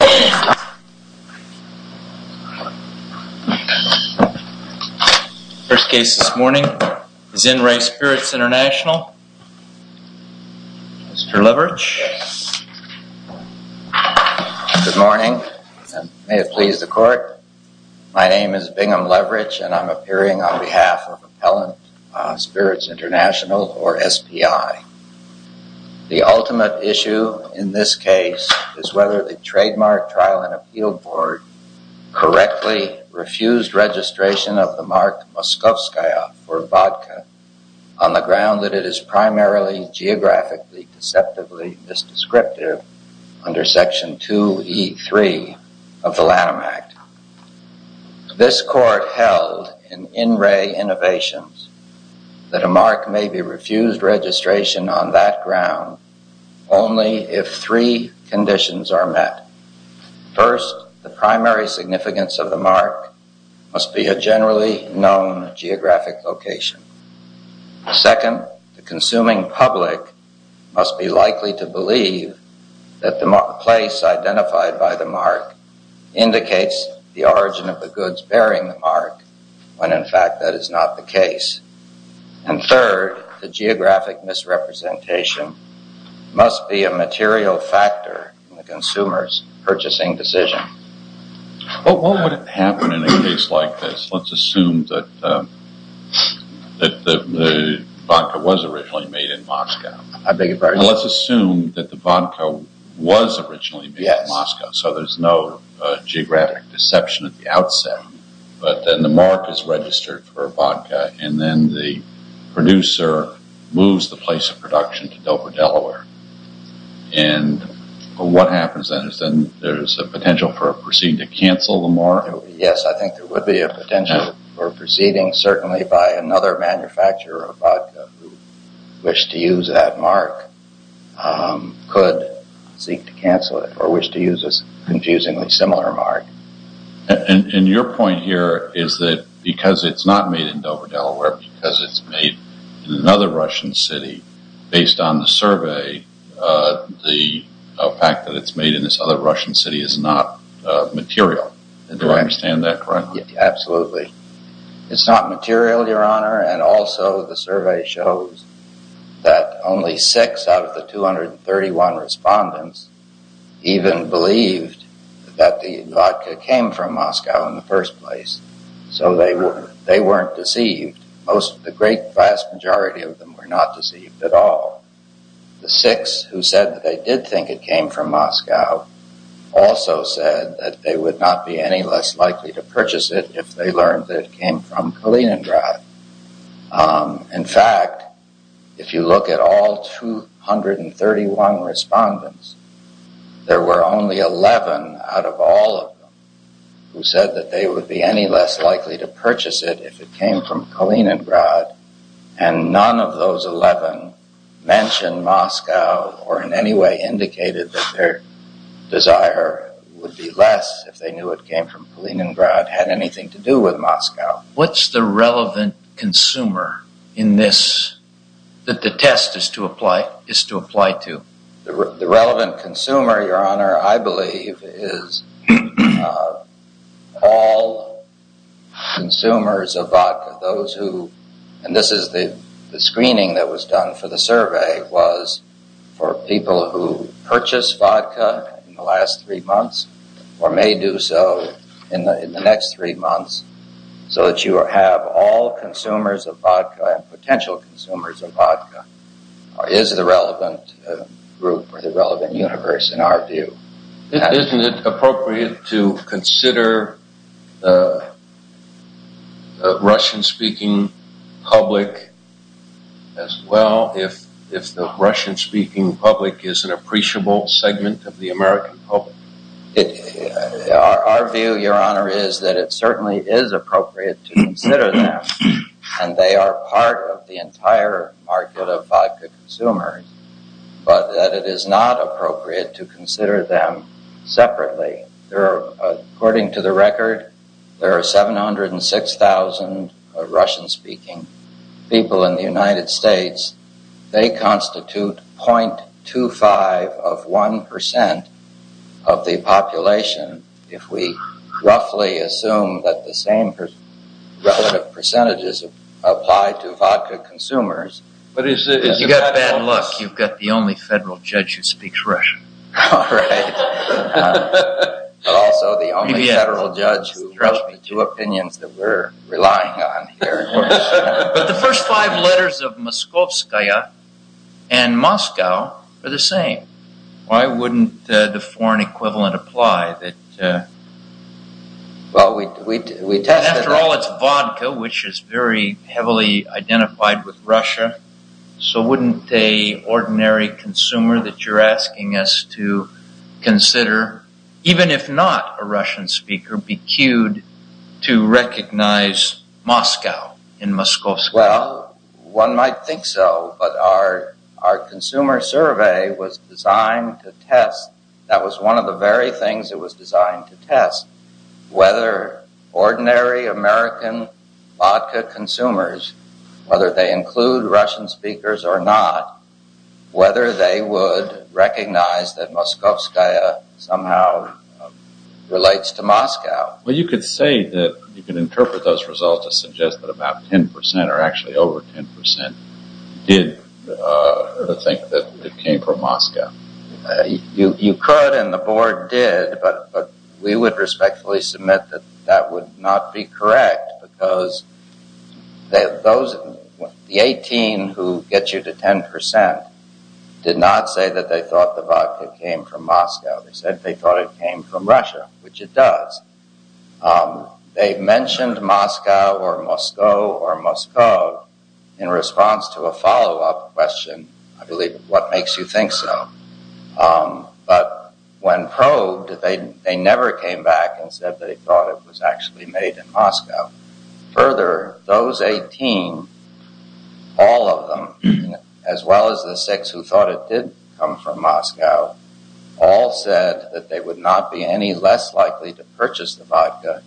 The first case this morning is in Re Spirits International. Mr. Leverich? Good morning and may it please the court. My name is Bingham Leverich and I'm appearing on behalf of Appellant Spirits International or SPI. The ultimate issue in this case is whether the Trademark Trial and Appeal Board correctly refused registration of the mark Moskovskaya for vodka on the ground that it is primarily geographically deceptively misdescriptive under Section 2E3 of the Lanham Act. This court held in in Re Innovations that a mark may be refused registration on that ground only if three conditions are met. First, the primary significance of the mark must be a generally known geographic location. Second, the consuming public must be likely to believe that the place identified by the mark indicates the origin of the goods bearing the mark when in fact that is not the case. And third, the geographic misrepresentation must be a material factor in the consumer's purchasing decision. But what would happen in a case like this? Let's assume that the vodka was originally made in Moscow. I beg your pardon? Let's assume that the vodka was originally made in Moscow so there's no geographic deception at the outset. But then the mark is registered for a vodka and then the producer moves the place of production to Dover, Delaware. And what happens then is then there's a potential for a proceeding to cancel the mark? Yes, I think there would be a potential for a proceeding certainly by another manufacturer of vodka who wished to use that mark, could seek to cancel it or wish to use a confusingly similar mark. And your point here is that because it's not made in Dover, Delaware, because it's made in another Russian city, based on the survey, the fact that it's made in this other Russian city is not material. Do I understand that correctly? Absolutely. It's not material, Your Honor, and also the survey shows that only six out of the 231 respondents even believed that the vodka came from Moscow in the first place. So they weren't deceived. The great vast majority of them were not deceived at all. The six who said that they did think it came from Moscow also said that they would not be any less likely to purchase it if they learned that it came from Kaliningrad. In fact, if you look at all 231 respondents, there were only 11 out of all of them who said that they would be any less likely to purchase it if it came from Kaliningrad. And none of those 11 mentioned Moscow or in any way indicated that their desire would be less if they knew it came from Kaliningrad had anything to do with Moscow. What's the relevant consumer in this that the test is to apply to? The relevant consumer, Your Honor, I believe is all consumers of vodka. Those who, and this is the screening that was done for the survey was for people who purchase vodka in the last three months or may do so in the next three months so that you have all consumers of vodka and potential consumers of vodka is the relevant group or the relevant universe in our view. Isn't it appropriate to consider the Russian speaking public as well if the Russian speaking public is an appreciable segment of the American public? Our view, Your Honor, is that it certainly is appropriate to consider them and they are part of the entire market of vodka consumers, but that it is not appropriate to consider them separately. According to the record, there are 706,000 Russian speaking people in the United States. They constitute 0.25 of 1% of the population. If we roughly assume that the same relative percentages apply to vodka consumers, but you've got bad luck. You've got the only federal judge who speaks Russian. But the first five letters of Moskovskaya and Moscow are the same. After all, it's vodka, which is very heavily identified with Russia. So wouldn't a ordinary consumer that you're asking us to consider, even if not a Russian speaker, be cued to recognize Moscow in Moskovskaya? Well, one might think so, but our consumer survey was designed to test. That was one of the very things that was designed to test whether ordinary American vodka consumers, whether they include Russian speakers or not, whether they would recognize that Moskovskaya somehow relates to Moscow. Well, you could say that you can interpret those results to suggest that about 10% or actually over 10% did think that it came from Moscow. You could and the board did, but we would respectfully submit that that would not be correct because the 18 who get you to 10% did not say that they thought the vodka came from Moscow. They said they thought it came from Russia, which it does. They mentioned Moscow or Moscow or Moscow in response to a follow-up question, I believe, what makes you think so? But when probed, they never came back and said they thought it was actually made in Moscow. Further, those 18, all of them, as well as the six who would not be any less likely to purchase the vodka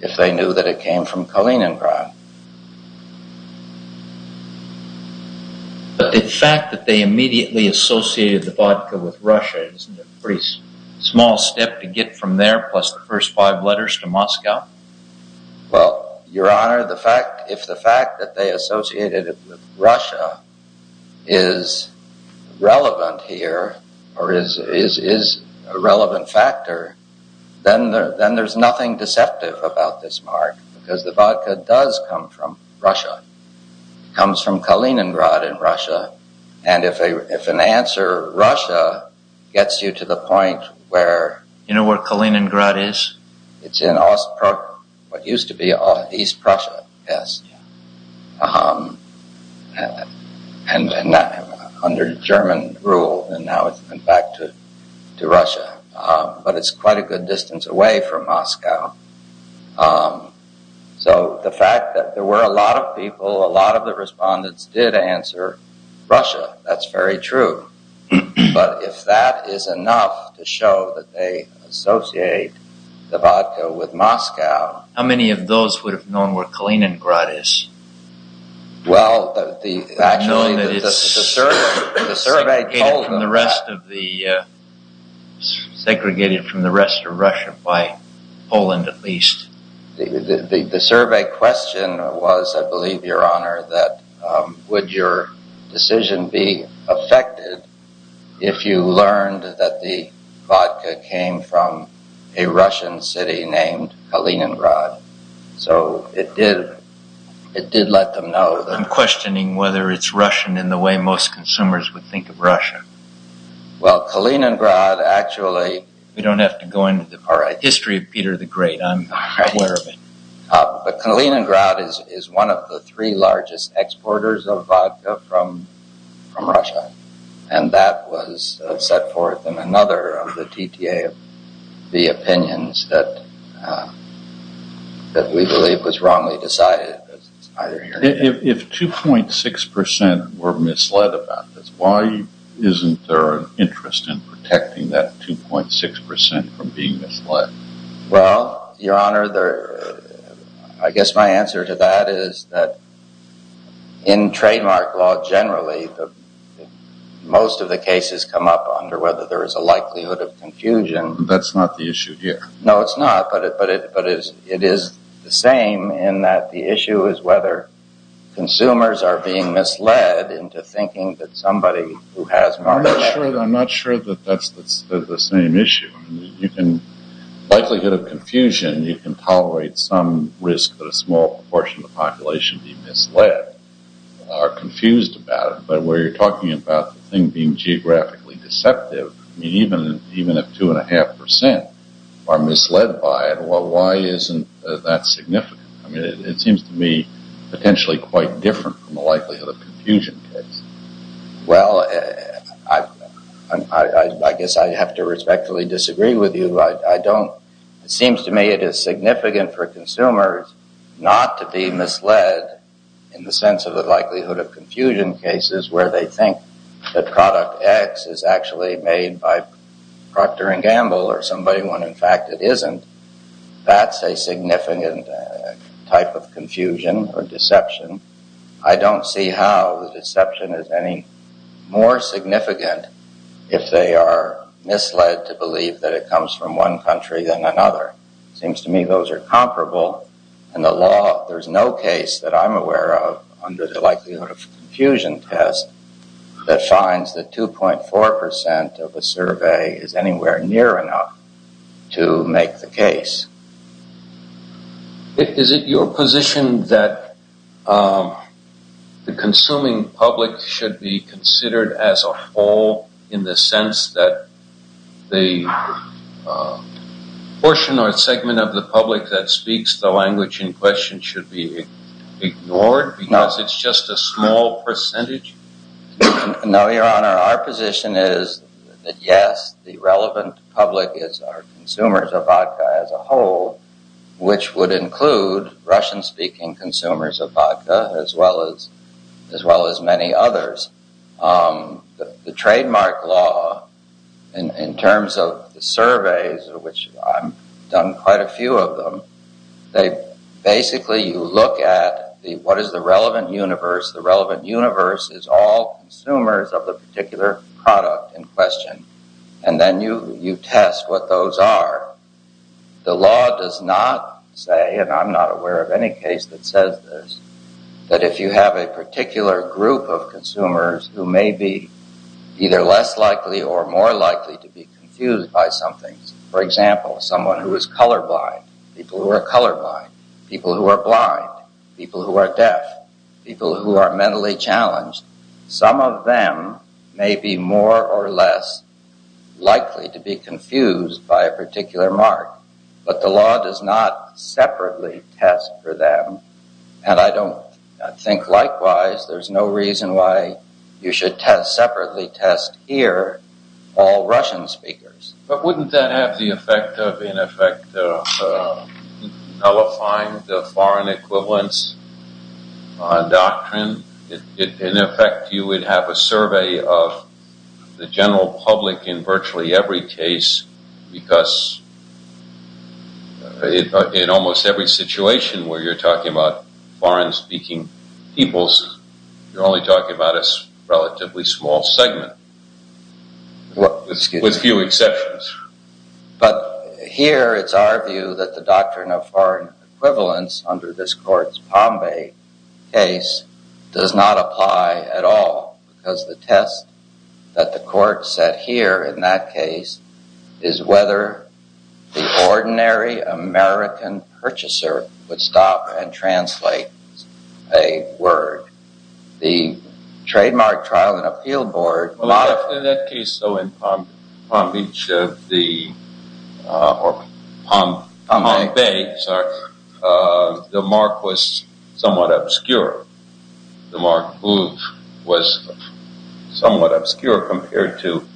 if they knew that it came from Kaliningrad. But the fact that they immediately associated the vodka with Russia is a pretty small step to get from there plus the first five letters to Moscow. Well, your honor, the fact, if the fact that they a relevant factor, then there's nothing deceptive about this mark because the vodka does come from Russia, comes from Kaliningrad in Russia. And if an answer Russia gets you to the point where... You know where Kaliningrad is? It's in what used to be East Prussia. Yes. And under German rule, and now it's been back to Russia. But it's quite a good distance away from Moscow. So the fact that there were a lot of people, a lot of the respondents did answer Russia, that's very true. But if that is enough to show that they associate the vodka with Moscow... How many of those would have known where Kaliningrad is? Well, the... Known that it's segregated from the rest of Russia by Poland, at least. The survey question was, I believe, your honor, that would your decision be affected if you learned that the vodka came from a Russian city named Kaliningrad? So it did let them know. I'm questioning whether it's Russian in the way most consumers would think of Russia. Well, Kaliningrad actually... We don't have to go into the history of Peter the Great. I'm aware of it. But Kaliningrad is one of the three largest exporters of vodka from Russia. And that was set forth in another of the TTA, the opinions that we believe was wrongly decided. If 2.6% were misled about this, why isn't there an interest in protecting that 2.6% from being misled? Well, your honor, I guess my answer to that is that in trademark law generally, the most of the cases come up under whether there is a likelihood of confusion. That's not the issue here. No, it's not. But it is the same in that the issue is whether consumers are being misled into thinking that somebody who has... I'm not sure that that's the same issue. Likelihood of confusion, you can tolerate some risk that a small proportion of the population being misled are confused about it. But where you're talking about the thing being geographically deceptive, I mean, even if 2.5% are misled by it, well, why isn't that significant? I mean, it seems to me potentially quite different from the likelihood of confusion case. Well, I guess I have to respectfully disagree with you. It seems to me it is significant for consumers not to be misled in the sense of the likelihood of confusion cases where they think that product X is actually made by Procter & Gamble or somebody when in fact it isn't. That's a significant type of confusion or deception. I don't see how the deception is any more significant if they are misled to believe that it comes from one country than another. Seems to me those are comparable. And the law, there's no case that I'm aware of under the likelihood of confusion test that finds that 2.4% of the survey is anywhere near enough to make the case. Is it your position that the consuming public should be considered as a whole in the sense that the portion or segment of the public that speaks the language in question should be ignored because it's just a small percentage? No, Your Honor. Our position is that yes, the relevant public is our consumers of vodka as a whole. Which would include Russian-speaking consumers of vodka as well as many others. The trademark law in terms of the surveys, which I've done quite a few of them, they basically you look at what is the relevant universe. The relevant universe is all consumers of the particular product in question. And then you test what those are. The law does not say, and I'm not aware of any case that says this, that if you have a particular group of consumers who may be either less likely or more likely to be confused by something. For example, someone who is colorblind, people who are colorblind, people who are blind, people who are deaf, people who are mentally challenged. Some of them may be more or less likely to be confused by a particular mark, but the law does not separately test for them. And I don't think likewise, there's no reason why you should test, separately test here all Russian speakers. But wouldn't that have the effect of, in effect, nullifying the foreign equivalence doctrine? In effect, you would have a survey of the general public in virtually every case, because in almost every situation where you're talking about foreign speaking peoples, you're only talking about a relatively small segment with few exceptions. But here, it's our view that the doctrine of foreign equivalence under this court's case does not apply at all, because the test that the court set here in that case is whether the ordinary American purchaser would stop and translate a word. The trademark trial and appeal board... In that case, though, in Palm Beach or Palm Bay, the mark was somewhat obscure. The mark was somewhat obscure compared to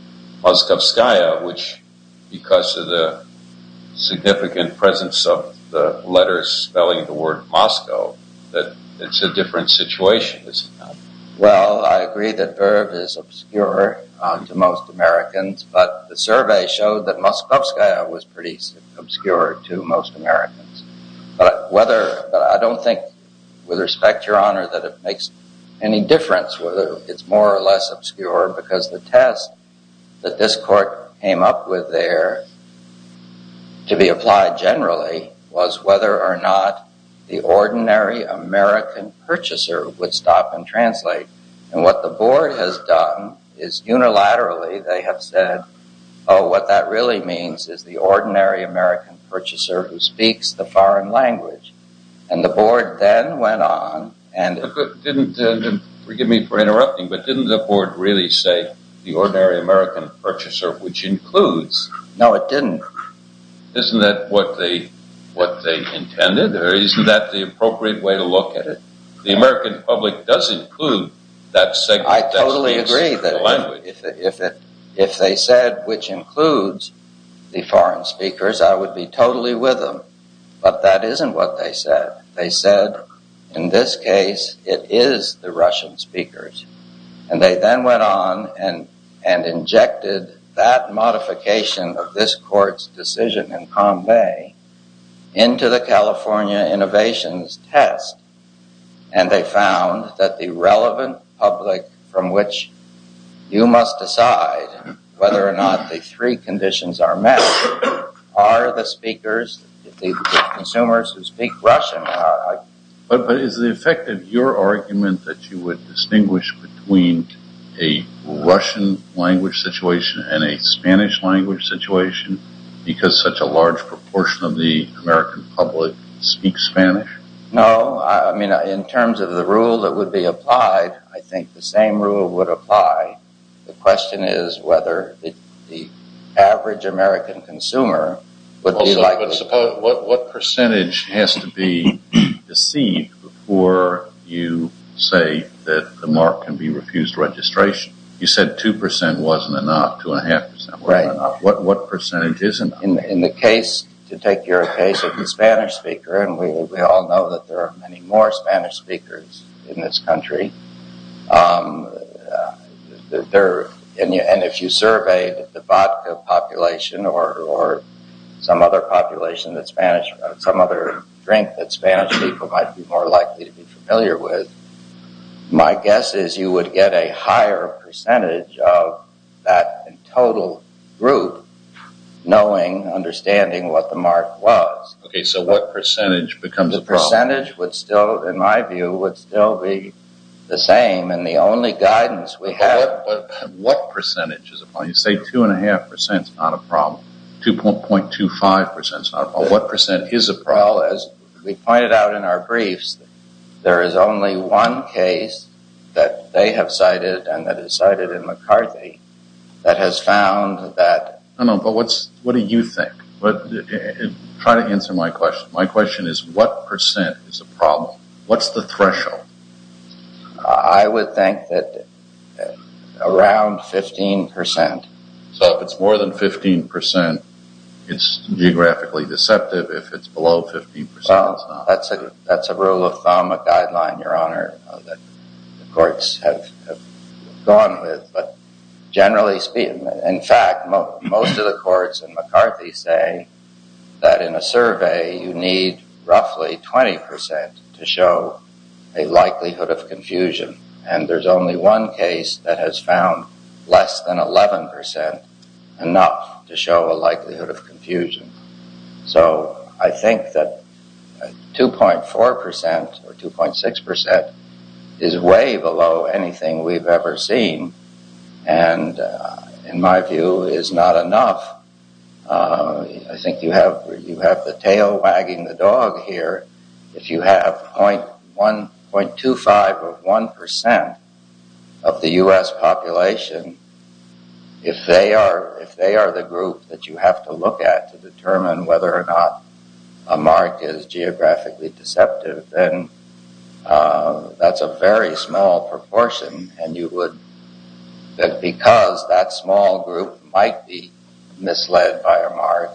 Moskovskaya, which, because of the significant presence of the letters spelling the word Moscow, that it's a different situation. Well, I agree that Verve is obscure to most Americans, but the survey showed that Moskovskaya was pretty obscure to most Americans. But I don't think, with respect, Your Honor, that it makes any difference whether it's more or less obscure, because the test that this court came up with there to be applied generally was whether or not the ordinary American purchaser would stop and translate. And what the board has done is, unilaterally, they have said, oh, what that really means is the ordinary American purchaser who speaks the foreign language. And the board then went on and... Forgive me for interrupting, but didn't the board really say the ordinary American purchaser, which includes... No, it didn't. Isn't that what they intended? Or isn't that the appropriate way to look at it? The American public does include that segment that speaks the language. I totally agree that if they said, which includes the foreign speakers, I would be totally with them. But that isn't what they said. They said, in this case, it is the Russian speakers. And they then went on and injected that modification of this court's decision in Convay into the California Innovations Test. And they found that the relevant public from which you must decide whether or not the three conditions are met are the speakers, the consumers who speak Russian. But is the effect of your argument that you would distinguish between a Russian language situation and a Spanish language situation because such a large proportion of the American public speaks Spanish? No, I mean, in terms of the rule that would be applied, I think the same rule would apply. The question is whether the average American consumer would be like... What percentage has to be deceived before you say that the mark can be refused registration? You said 2% wasn't enough, 2.5% wasn't enough. What percentage isn't enough? In the case, to take your case of the Spanish speaker, and we all know that there are many more Spanish speakers in this country. And if you surveyed the vodka population or some other population that Spanish, some other drink that Spanish people might be more likely to be familiar with, my guess is you would get a higher percentage of that total group knowing, understanding what the mark was. Okay, so what percentage becomes the problem? In my view, it would still be the same and the only guidance we have... What percentage is a problem? You say 2.5% is not a problem, 2.25% is not a problem. What percent is a problem? As we pointed out in our briefs, there is only one case that they have cited and that is cited in McCarthy that has found that... I know, but what do you think? Try to answer my question. My question is, what percent is a problem? What's the threshold? I would think that around 15%. So if it's more than 15%, it's geographically deceptive. If it's below 15%, it's not. That's a rule of thumb, a guideline, Your Honor, that the courts have gone with. But generally speaking, in fact, most of the courts in McCarthy say that in a survey, you need roughly 20% to show a likelihood of confusion. And there's only one case that has found less than 11% enough to show a likelihood of confusion. So I think that 2.4% or 2.6% is way below anything we've ever seen. And in my view, is not enough. I think you have the tail wagging the dog here. If you have 0.25 or 1% of the U.S. population, if they are the group that you have to look at to determine whether or not a mark is geographically deceptive, then that's a very small proportion. And because that small group might be misled by a mark,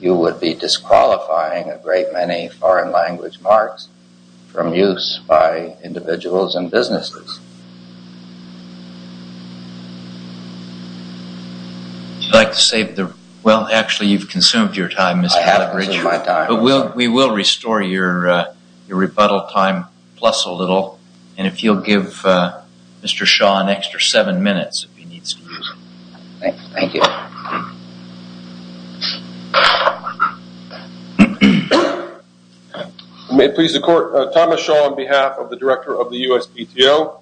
you would be disqualifying a great many foreign language marks from use by individuals and businesses. Would you like to save the... Well, actually, you've consumed your time, Mr. Leverage. And if you'll give Mr. Shaw an extra seven minutes if he needs to use it. Thanks. Thank you. May it please the court. Thomas Shaw on behalf of the director of the USPTO.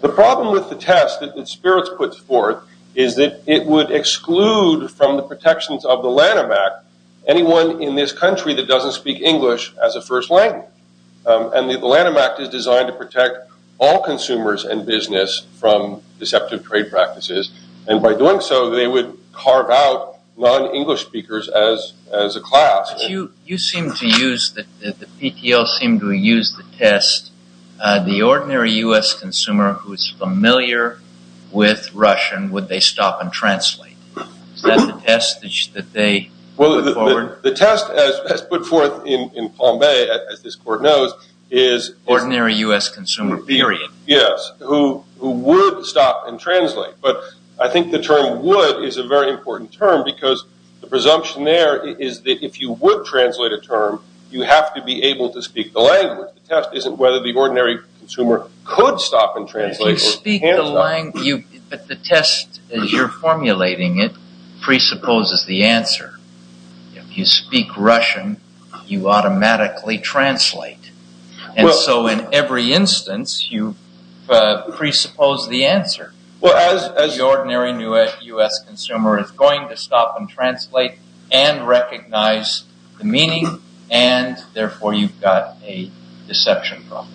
The problem with the test that Spirits puts forth is that it would exclude from the protections of the Lanham Act anyone in this country that doesn't speak English as a first language. And the Lanham Act is designed to protect all consumers and business from deceptive trade practices. And by doing so, they would carve out non-English speakers as a class. But you seem to use, the PTO seem to use the test, the ordinary U.S. consumer who is familiar with Russian, would they stop and translate? Is that the test that they put forward? The test as put forth in Palm Bay, as this court knows, is... Ordinary U.S. consumer, period. Yes, who would stop and translate. But I think the term would is a very important term because the presumption there is that if you would translate a term, you have to be able to speak the language. The test isn't whether the ordinary consumer could stop and translate. You speak the language, but the test as you're formulating it presupposes the answer. If you speak Russian, you automatically translate. And so in every instance, you presuppose the answer. Well, as... The ordinary U.S. consumer is going to stop and translate and recognize the meaning. And therefore, you've got a deception problem.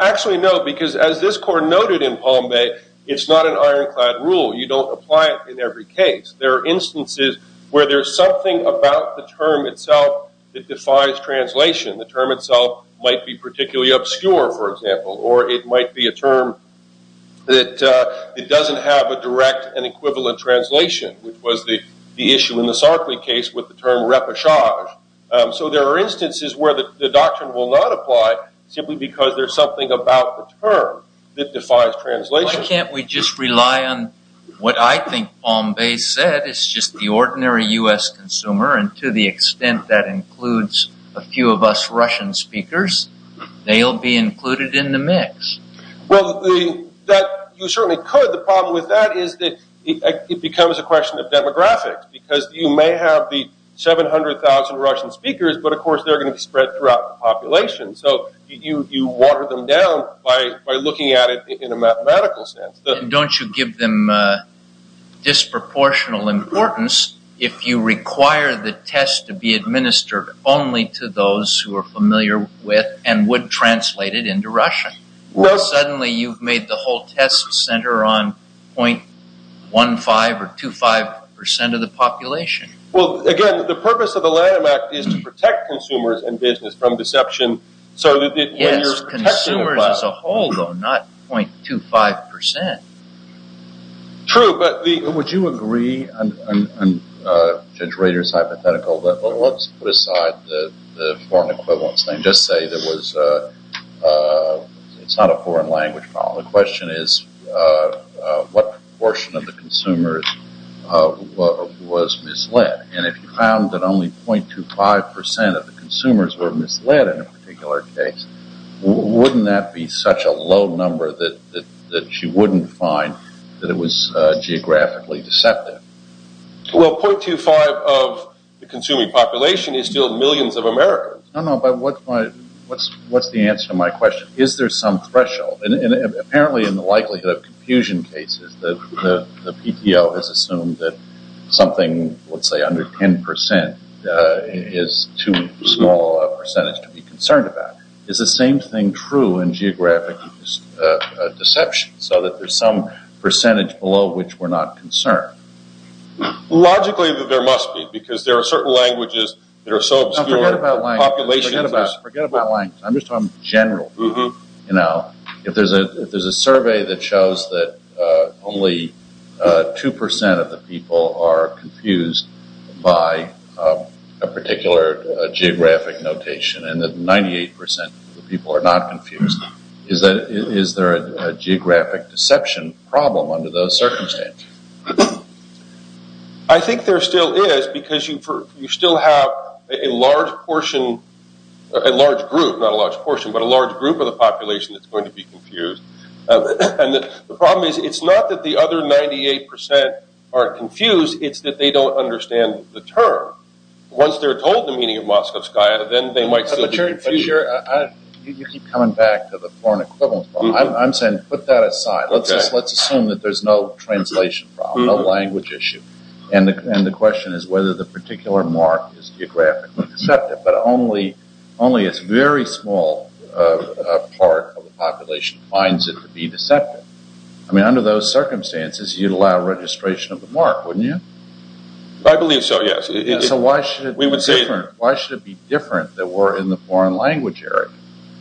Actually, no, because as this court noted in Palm Bay, it's not an ironclad rule. You don't apply it in every case. There are instances where there's something about the term itself that defies translation. The term itself might be particularly obscure, for example, or it might be a term that it doesn't have a direct and equivalent translation, which was the issue in the Sarkley case with the term repoussage. So there are instances where the doctrine will not apply simply because there's something about the term that defies translation. Why can't we just rely on what I think Palm Bay said? It's just the ordinary U.S. consumer. And to the extent that includes a few of us Russian speakers, they'll be included in the mix. Well, you certainly could. The problem with that is that it becomes a question of demographics because you may have the 700,000 Russian speakers, but of course, they're going to be spread throughout the population. So you water them down by looking at it in a mathematical sense. Don't you give them disproportionate importance if you require the test to be administered only to those who are familiar with and would translate it into Russian? Suddenly you've made the whole test center on 0.15% or 0.25% of the population. Well, again, the purpose of the Lanham Act is to protect consumers and business from deception. So that consumers as a whole, though, not 0.25%. True, but would you agree? Judge Rader's hypothetical. Let's put aside the foreign equivalence thing. Just say it's not a foreign language problem. The question is, what portion of the consumers was misled? And if you found that only 0.25% of the consumers were misled in a particular case, wouldn't that be such a low number that you wouldn't find that it was geographically deceptive? Well, 0.25% of the consuming population is still millions of Americans. No, no, but what's the answer to my question? Is there some threshold? And apparently in the likelihood of confusion cases, the PTO has assumed that something, let's say under 10%, is too small a percentage to be concerned about. Is the same thing true in geographic deception, so that there's some percentage below which we're not concerned? Logically, there must be, because there are certain languages that are so obscure. Forget about languages. Forget about languages. I'm just talking general. Now, if there's a survey that shows that only 2% of the people are confused by a particular geographic notation, and that 98% of the people are not confused, is there a geographic deception problem under those circumstances? I think there still is, because you still have a large portion, a large group, not a large portion, but a large group of the population that's going to be confused. And the problem is, it's not that the other 98% aren't confused. It's that they don't understand the term. Once they're told the meaning of Moscow, then they might still be confused. You keep coming back to the foreign equivalent problem. I'm saying put that aside. Let's assume that there's no translation problem, no language issue. And the question is whether the particular mark is geographically deceptive. But only a very small part of the population finds it to be deceptive. I mean, under those circumstances, you'd allow registration of the mark, wouldn't you? I believe so, yes. Why should it be different that we're in the foreign language area?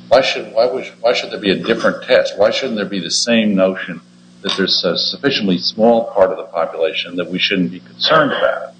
Why should there be a different test? Why shouldn't there be the same notion that there's a sufficiently small part of the population that we shouldn't be concerned about?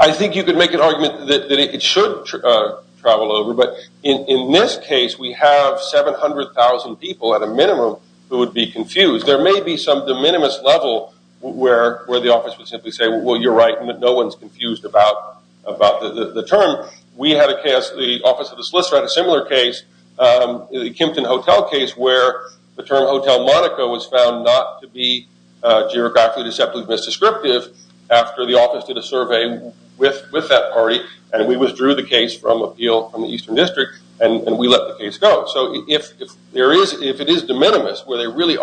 I think you could make an argument that it should travel over. But in this case, we have 700,000 people at a minimum who would be confused. There may be some de minimis level where the office would simply say, well, you're right, no one's confused about the term. We had a case, the Office of the Solicitor had a similar case, the Kempton Hotel case, where the term Hotel Monaco was found not to be misdescriptive after the office did a survey with that party, and we withdrew the case from the Eastern District, and we let the case go. So if it is de minimis, where we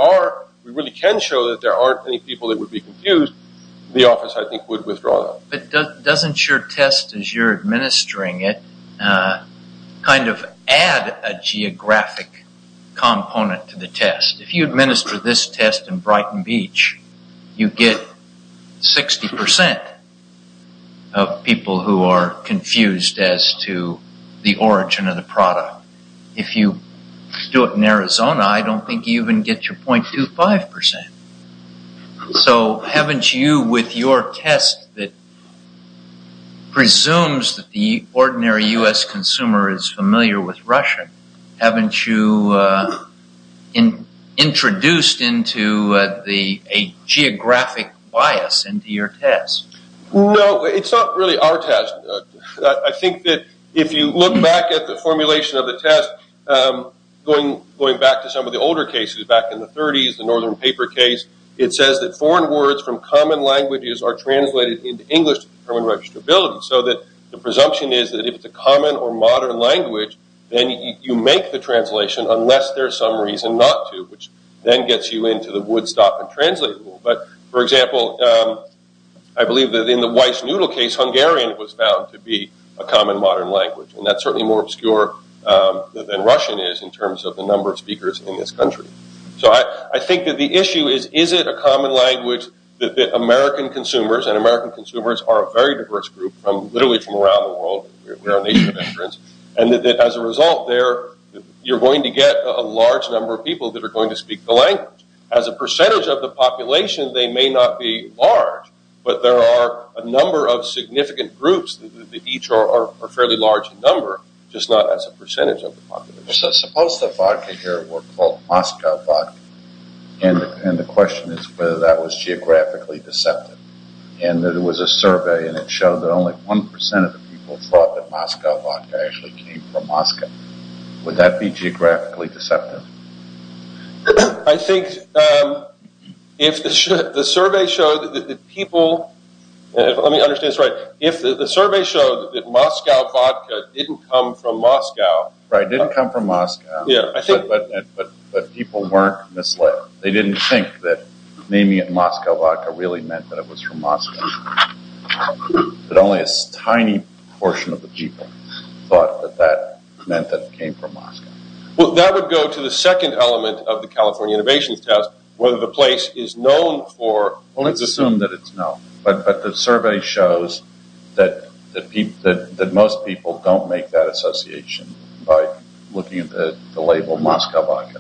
really can show that there aren't any people that would be confused, the office, I think, would withdraw that. But doesn't your test as you're administering it kind of add a geographic component to the test? If you administer this test in Brighton Beach, you get 60% of people who are confused as to the origin of the product. If you do it in Arizona, I don't think you even get your 0.25%. So haven't you, with your test that presumes that the ordinary U.S. consumer is familiar with Russian, haven't you introduced a geographic bias into your test? No, it's not really our test. I think that if you look back at the formulation of the test, going back to some of the older cases, back in the 30s, the Northern Paper case, it says that foreign words from common languages are translated into English to determine registrability. So the presumption is that if it's a common or modern language, then you make the translation unless there's some reason not to, which then gets you into the would-stop-and-translate rule. But, for example, I believe that in the Weiss noodle case, Hungarian was found to be a common modern language. And that's certainly more obscure than Russian is in terms of the number of speakers in this country. So I think that the issue is, is it a common language that American consumers, and American consumers are a very diverse group, literally from around the world, we're a nation of veterans, and that as a result, you're going to get a large number of people that are going to speak the language. As a percentage of the population, they may not be large, but there are a number of significant groups that each are a fairly large number, just not as a percentage of the population. Suppose the vodka here were called Moscow vodka, and the question is whether that was geographically deceptive. And there was a survey, and it showed that only 1% of the people thought that Moscow vodka actually came from Moscow. Would that be geographically deceptive? I think if the survey showed that the people, let me understand this right, if the survey showed that Moscow vodka didn't come from Moscow. Right, didn't come from Moscow. Yeah, I think. But people weren't misled. They didn't think that naming it Moscow vodka really meant that it was from Moscow. But only a tiny portion of the people thought that that meant that it came from Moscow. Well, that would go to the second element of the California Innovations Test, whether the place is known for... Well, let's assume that it's known, but the survey shows that most people don't make that association by looking at the label Moscow vodka.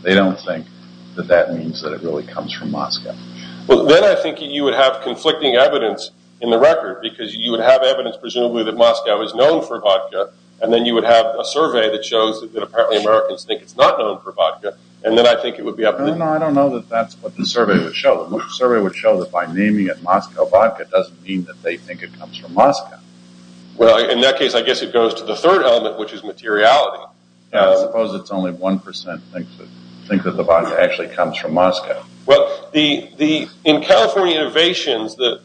Well, then I think you would have conflicting evidence in the record, because you would have evidence presumably that Moscow is known for vodka, and then you would have a survey that shows that apparently Americans think it's not known for vodka, and then I think it would be up to... No, I don't know that that's what the survey would show. The survey would show that by naming it Moscow vodka doesn't mean that they think it comes from Moscow. Well, in that case, I guess it goes to the third element, which is materiality. Yeah, I suppose it's only 1% think that the vodka actually comes from Moscow. Well, in California Innovations, the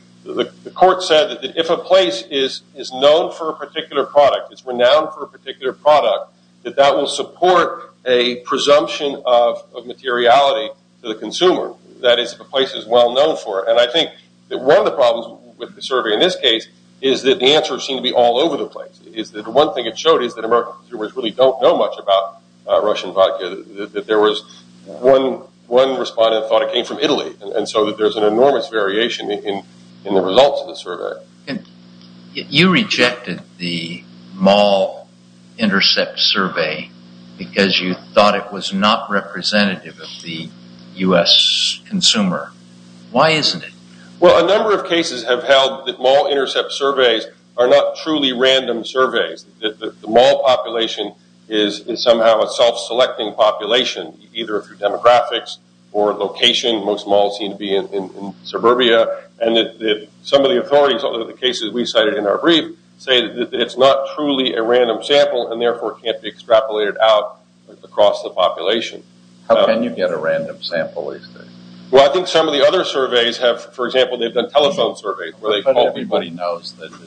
court said that if a place is known for a particular product, it's renowned for a particular product, that that will support a presumption of materiality to the consumer. That is, if a place is well known for it. And I think that one of the problems with the survey in this case is that the answers seem to be all over the place. Is that the one thing it showed is that American consumers really don't know much about Russian vodka. There was one respondent thought it came from Italy, and so there's an enormous variation in the results of the survey. You rejected the mall intercept survey because you thought it was not representative of the U.S. consumer. Why isn't it? Well, a number of cases have held that mall intercept surveys are not truly random surveys, that the mall population is somehow a self-selecting population, either through demographics or location. Most malls seem to be in suburbia. And some of the authorities, although the cases we cited in our brief, say that it's not truly a random sample, and therefore can't be extrapolated out across the population. How can you get a random sample? Well, I think some of the other surveys have, for example, they've done telephone surveys where they call... There's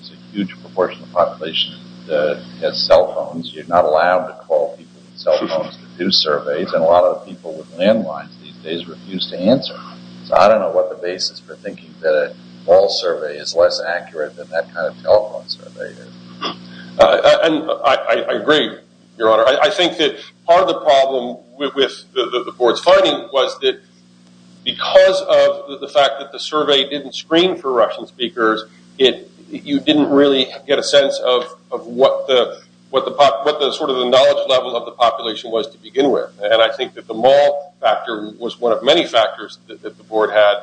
a huge proportion of the population that has cell phones. You're not allowed to call people with cell phones to do surveys, and a lot of people with landlines these days refuse to answer. So I don't know what the basis for thinking that a mall survey is less accurate than that kind of telephone survey is. And I agree, Your Honor. I think that part of the problem with the board's finding was that because of the fact that the survey didn't screen for Russian speakers, you didn't really get a sense of what the knowledge level of the population was to begin with. And I think that the mall factor was one of many factors that the board had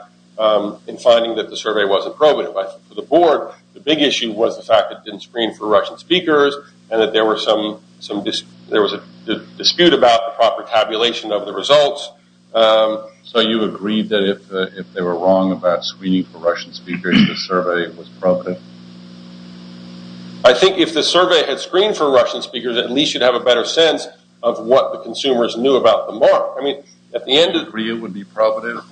in finding that the survey wasn't probative. I think for the board, the big issue was the fact that it didn't screen for Russian speakers and that there was a dispute about the proper tabulation of the results. So you agree that if they were wrong about screening for Russian speakers, the survey was probative? I think if the survey had screened for Russian speakers, at least you'd have a better sense of what the consumers knew about the mall. I mean, at the end of the... Do you agree it would be probative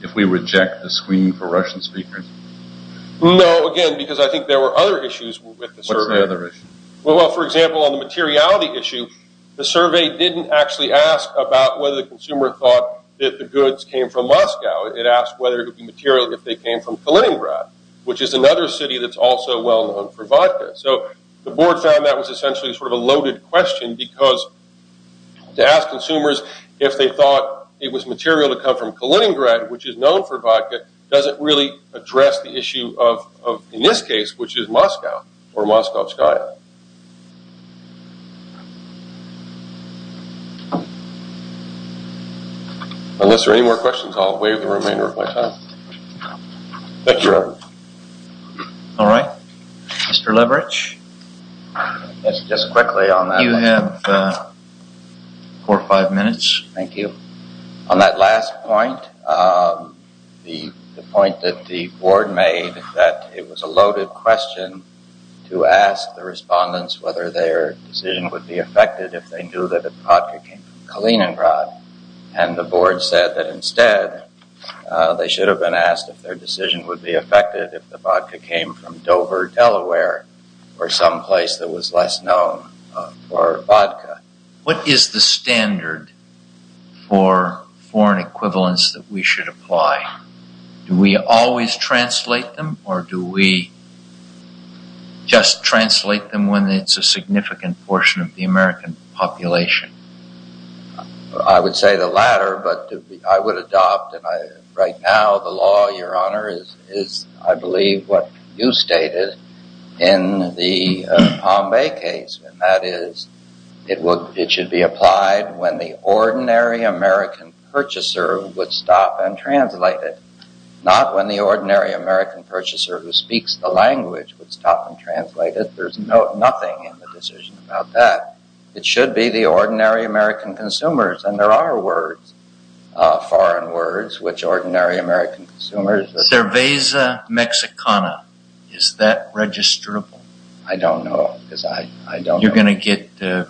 if we reject the screening for Russian speakers? No, again, because I think there were other issues with the survey. What's the other issue? Well, for example, on the materiality issue, the survey didn't actually ask about whether the consumer thought that the goods came from Moscow. It asked whether it would be material if they came from Kaliningrad, which is another city that's also well known for vodka. So the board found that was essentially sort of a loaded question because to ask consumers if they thought it was material to come from Kaliningrad, which is known for vodka, doesn't really address the issue of, in this case, which is Moscow or Moscow, Skya. Unless there are any more questions, I'll waive the remainder of my time. Thank you, Reverend. All right, Mr. Leverich. Yes, just quickly on that. You have four or five minutes. Thank you. On that last point, the point that the board made that it was a loaded question to ask the respondents whether their decision would be affected if they knew that the vodka came from Kaliningrad. And the board said that instead, they should have been asked if their decision would be affected if the vodka came from Dover, Delaware, or someplace that was less known for vodka. What is the standard for foreign equivalents that we should apply? Do we always translate them or do we just translate them when it's a significant portion of the American population? I would say the latter, but I would adopt, right now, the law, Your Honor, is, I believe, what you stated in the Palm Bay case. That is, it should be applied when the ordinary American purchaser would stop and translate it, not when the ordinary American purchaser who speaks the language would stop and translate it. There's nothing in the decision about that. It should be the ordinary American consumers. And there are words, foreign words, which ordinary American consumers... Cerveza Mexicana, is that registrable? I don't know, because I don't know. You're going to get a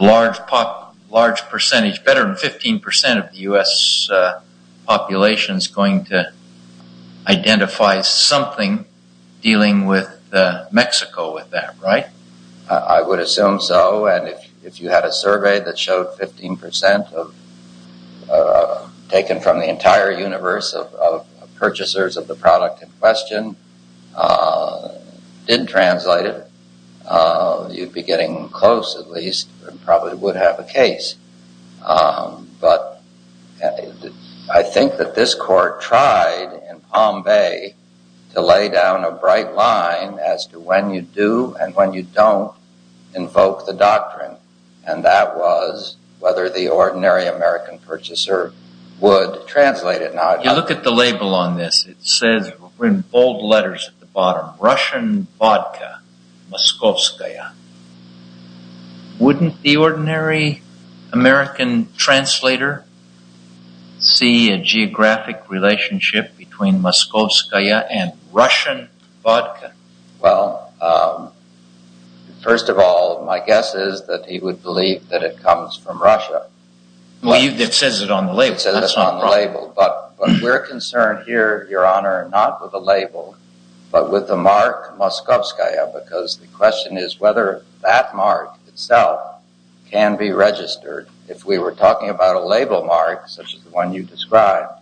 large percentage, better than 15% of the U.S. population is going to identify something dealing with Mexico with that, right? I would assume so. And if you had a survey that showed 15% taken from the entire universe of purchasers of the product in question didn't translate it, you'd be getting close, at least, and probably would have a case. But I think that this court tried in Palm Bay to lay down a bright line as to when you do and when you don't invoke the doctrine. And that was whether the ordinary American purchaser would translate it. Now, if you look at the label on this, it says in bold letters at the bottom, Russian vodka, Moskovskaya. Wouldn't the ordinary American translator see a geographic relationship between Moskovskaya and Russian vodka? Well, first of all, my guess is that he would believe that it comes from Russia. Well, it says it on the label. It says it on the label. But we're concerned here, Your Honor, not with the label, but with the mark Moskovskaya, because the question is whether that mark itself can be registered. If we were talking about a label mark, such as the one you described,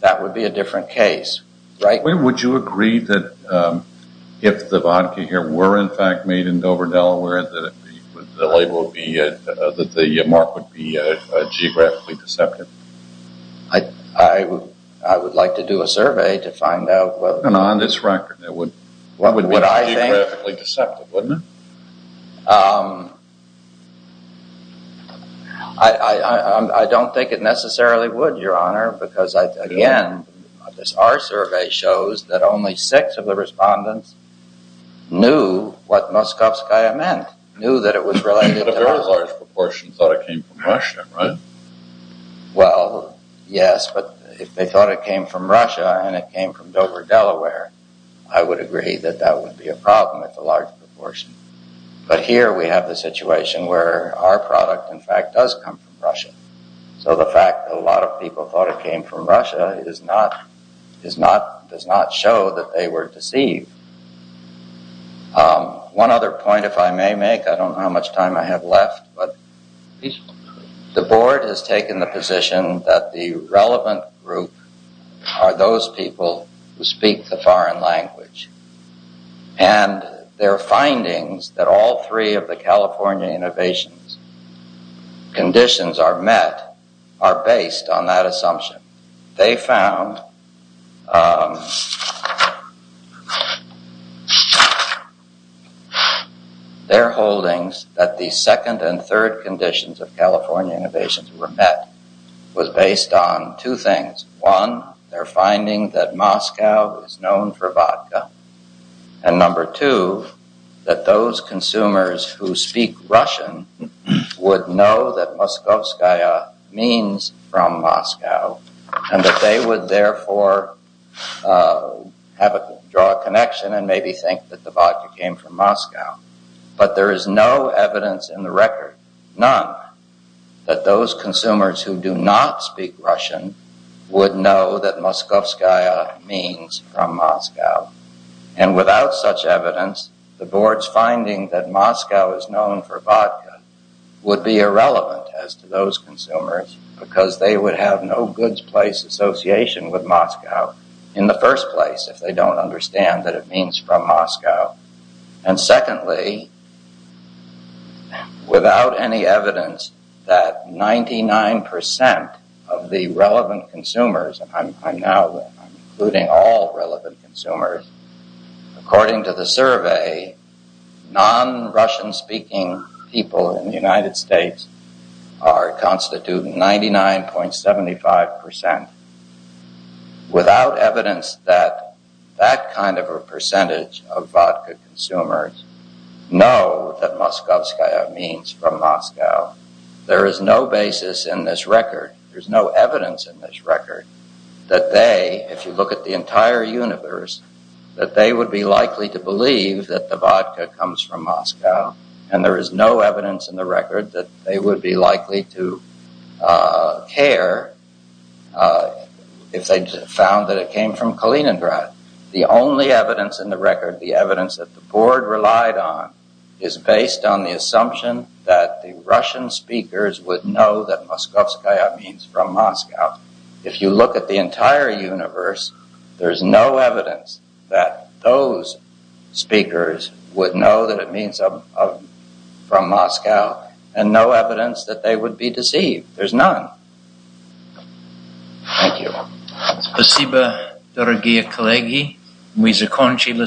that would be a different case, right? Would you agree that if the vodka here were, in fact, made in Dover, Delaware, that the label would be, that the mark would be geographically deceptive? I would like to do a survey to find out. And on this record, it would be geographically deceptive, wouldn't it? I don't think it necessarily would, Your Honor, because, again, this R-survey shows that only six of the respondents knew what Moskovskaya meant, knew that it was related to Russia. But a very large proportion thought it came from Russia, right? Well, yes. But if they thought it came from Russia and it came from Dover, Delaware, I would agree that that would be a problem at the large proportion. But here we have the situation where our product, in fact, does come from Russia. So the fact that a lot of people thought it came from Russia does not show that they were deceived. One other point, if I may make, I don't know how much time I have left, but the Board has taken the position that the relevant group are those people who speak the foreign language. And their findings that all three of the California innovations conditions are met are based on that assumption. They found their holdings that the second and third conditions of California innovations were met was based on two things. One, their finding that Moscow is known for vodka and number two, that those consumers who speak Russian would know that Moskovskaya means from Moscow and that they would therefore have a draw connection and maybe think that the vodka came from Moscow. But there is no evidence in the record, none, that those consumers who do not speak Russian would know that Moskovskaya means from Moscow. And without such evidence, the Board's finding that Moscow is known for vodka would be irrelevant as to those consumers because they would have no goods place association with Moscow in the first place if they don't understand that it means from Moscow. And secondly, without any evidence that 99% of the relevant consumers, and I'm now including all relevant consumers, according to the survey, non-Russian speaking people in the United States are constituting 99.75%. Without evidence that that kind of a percentage of vodka consumers know that Moskovskaya means from Moscow, there is no basis in this record, there's no evidence in this record that they, if you look at the entire universe, that they would be likely to believe that the vodka comes from Moscow. And there is no evidence in the record that they would be likely to care if they found that it came from Kaliningrad. The only evidence in the record, the evidence that the Board relied on is based on the assumption that the Russian speakers would know that Moskovskaya means from Moscow. If you look at the entire universe, there's no evidence that those speakers would know that it means from Moscow, and no evidence that they would be deceived. There's none. Thank you. Спасибо, дорогие коллеги. Мы закончили сегодня.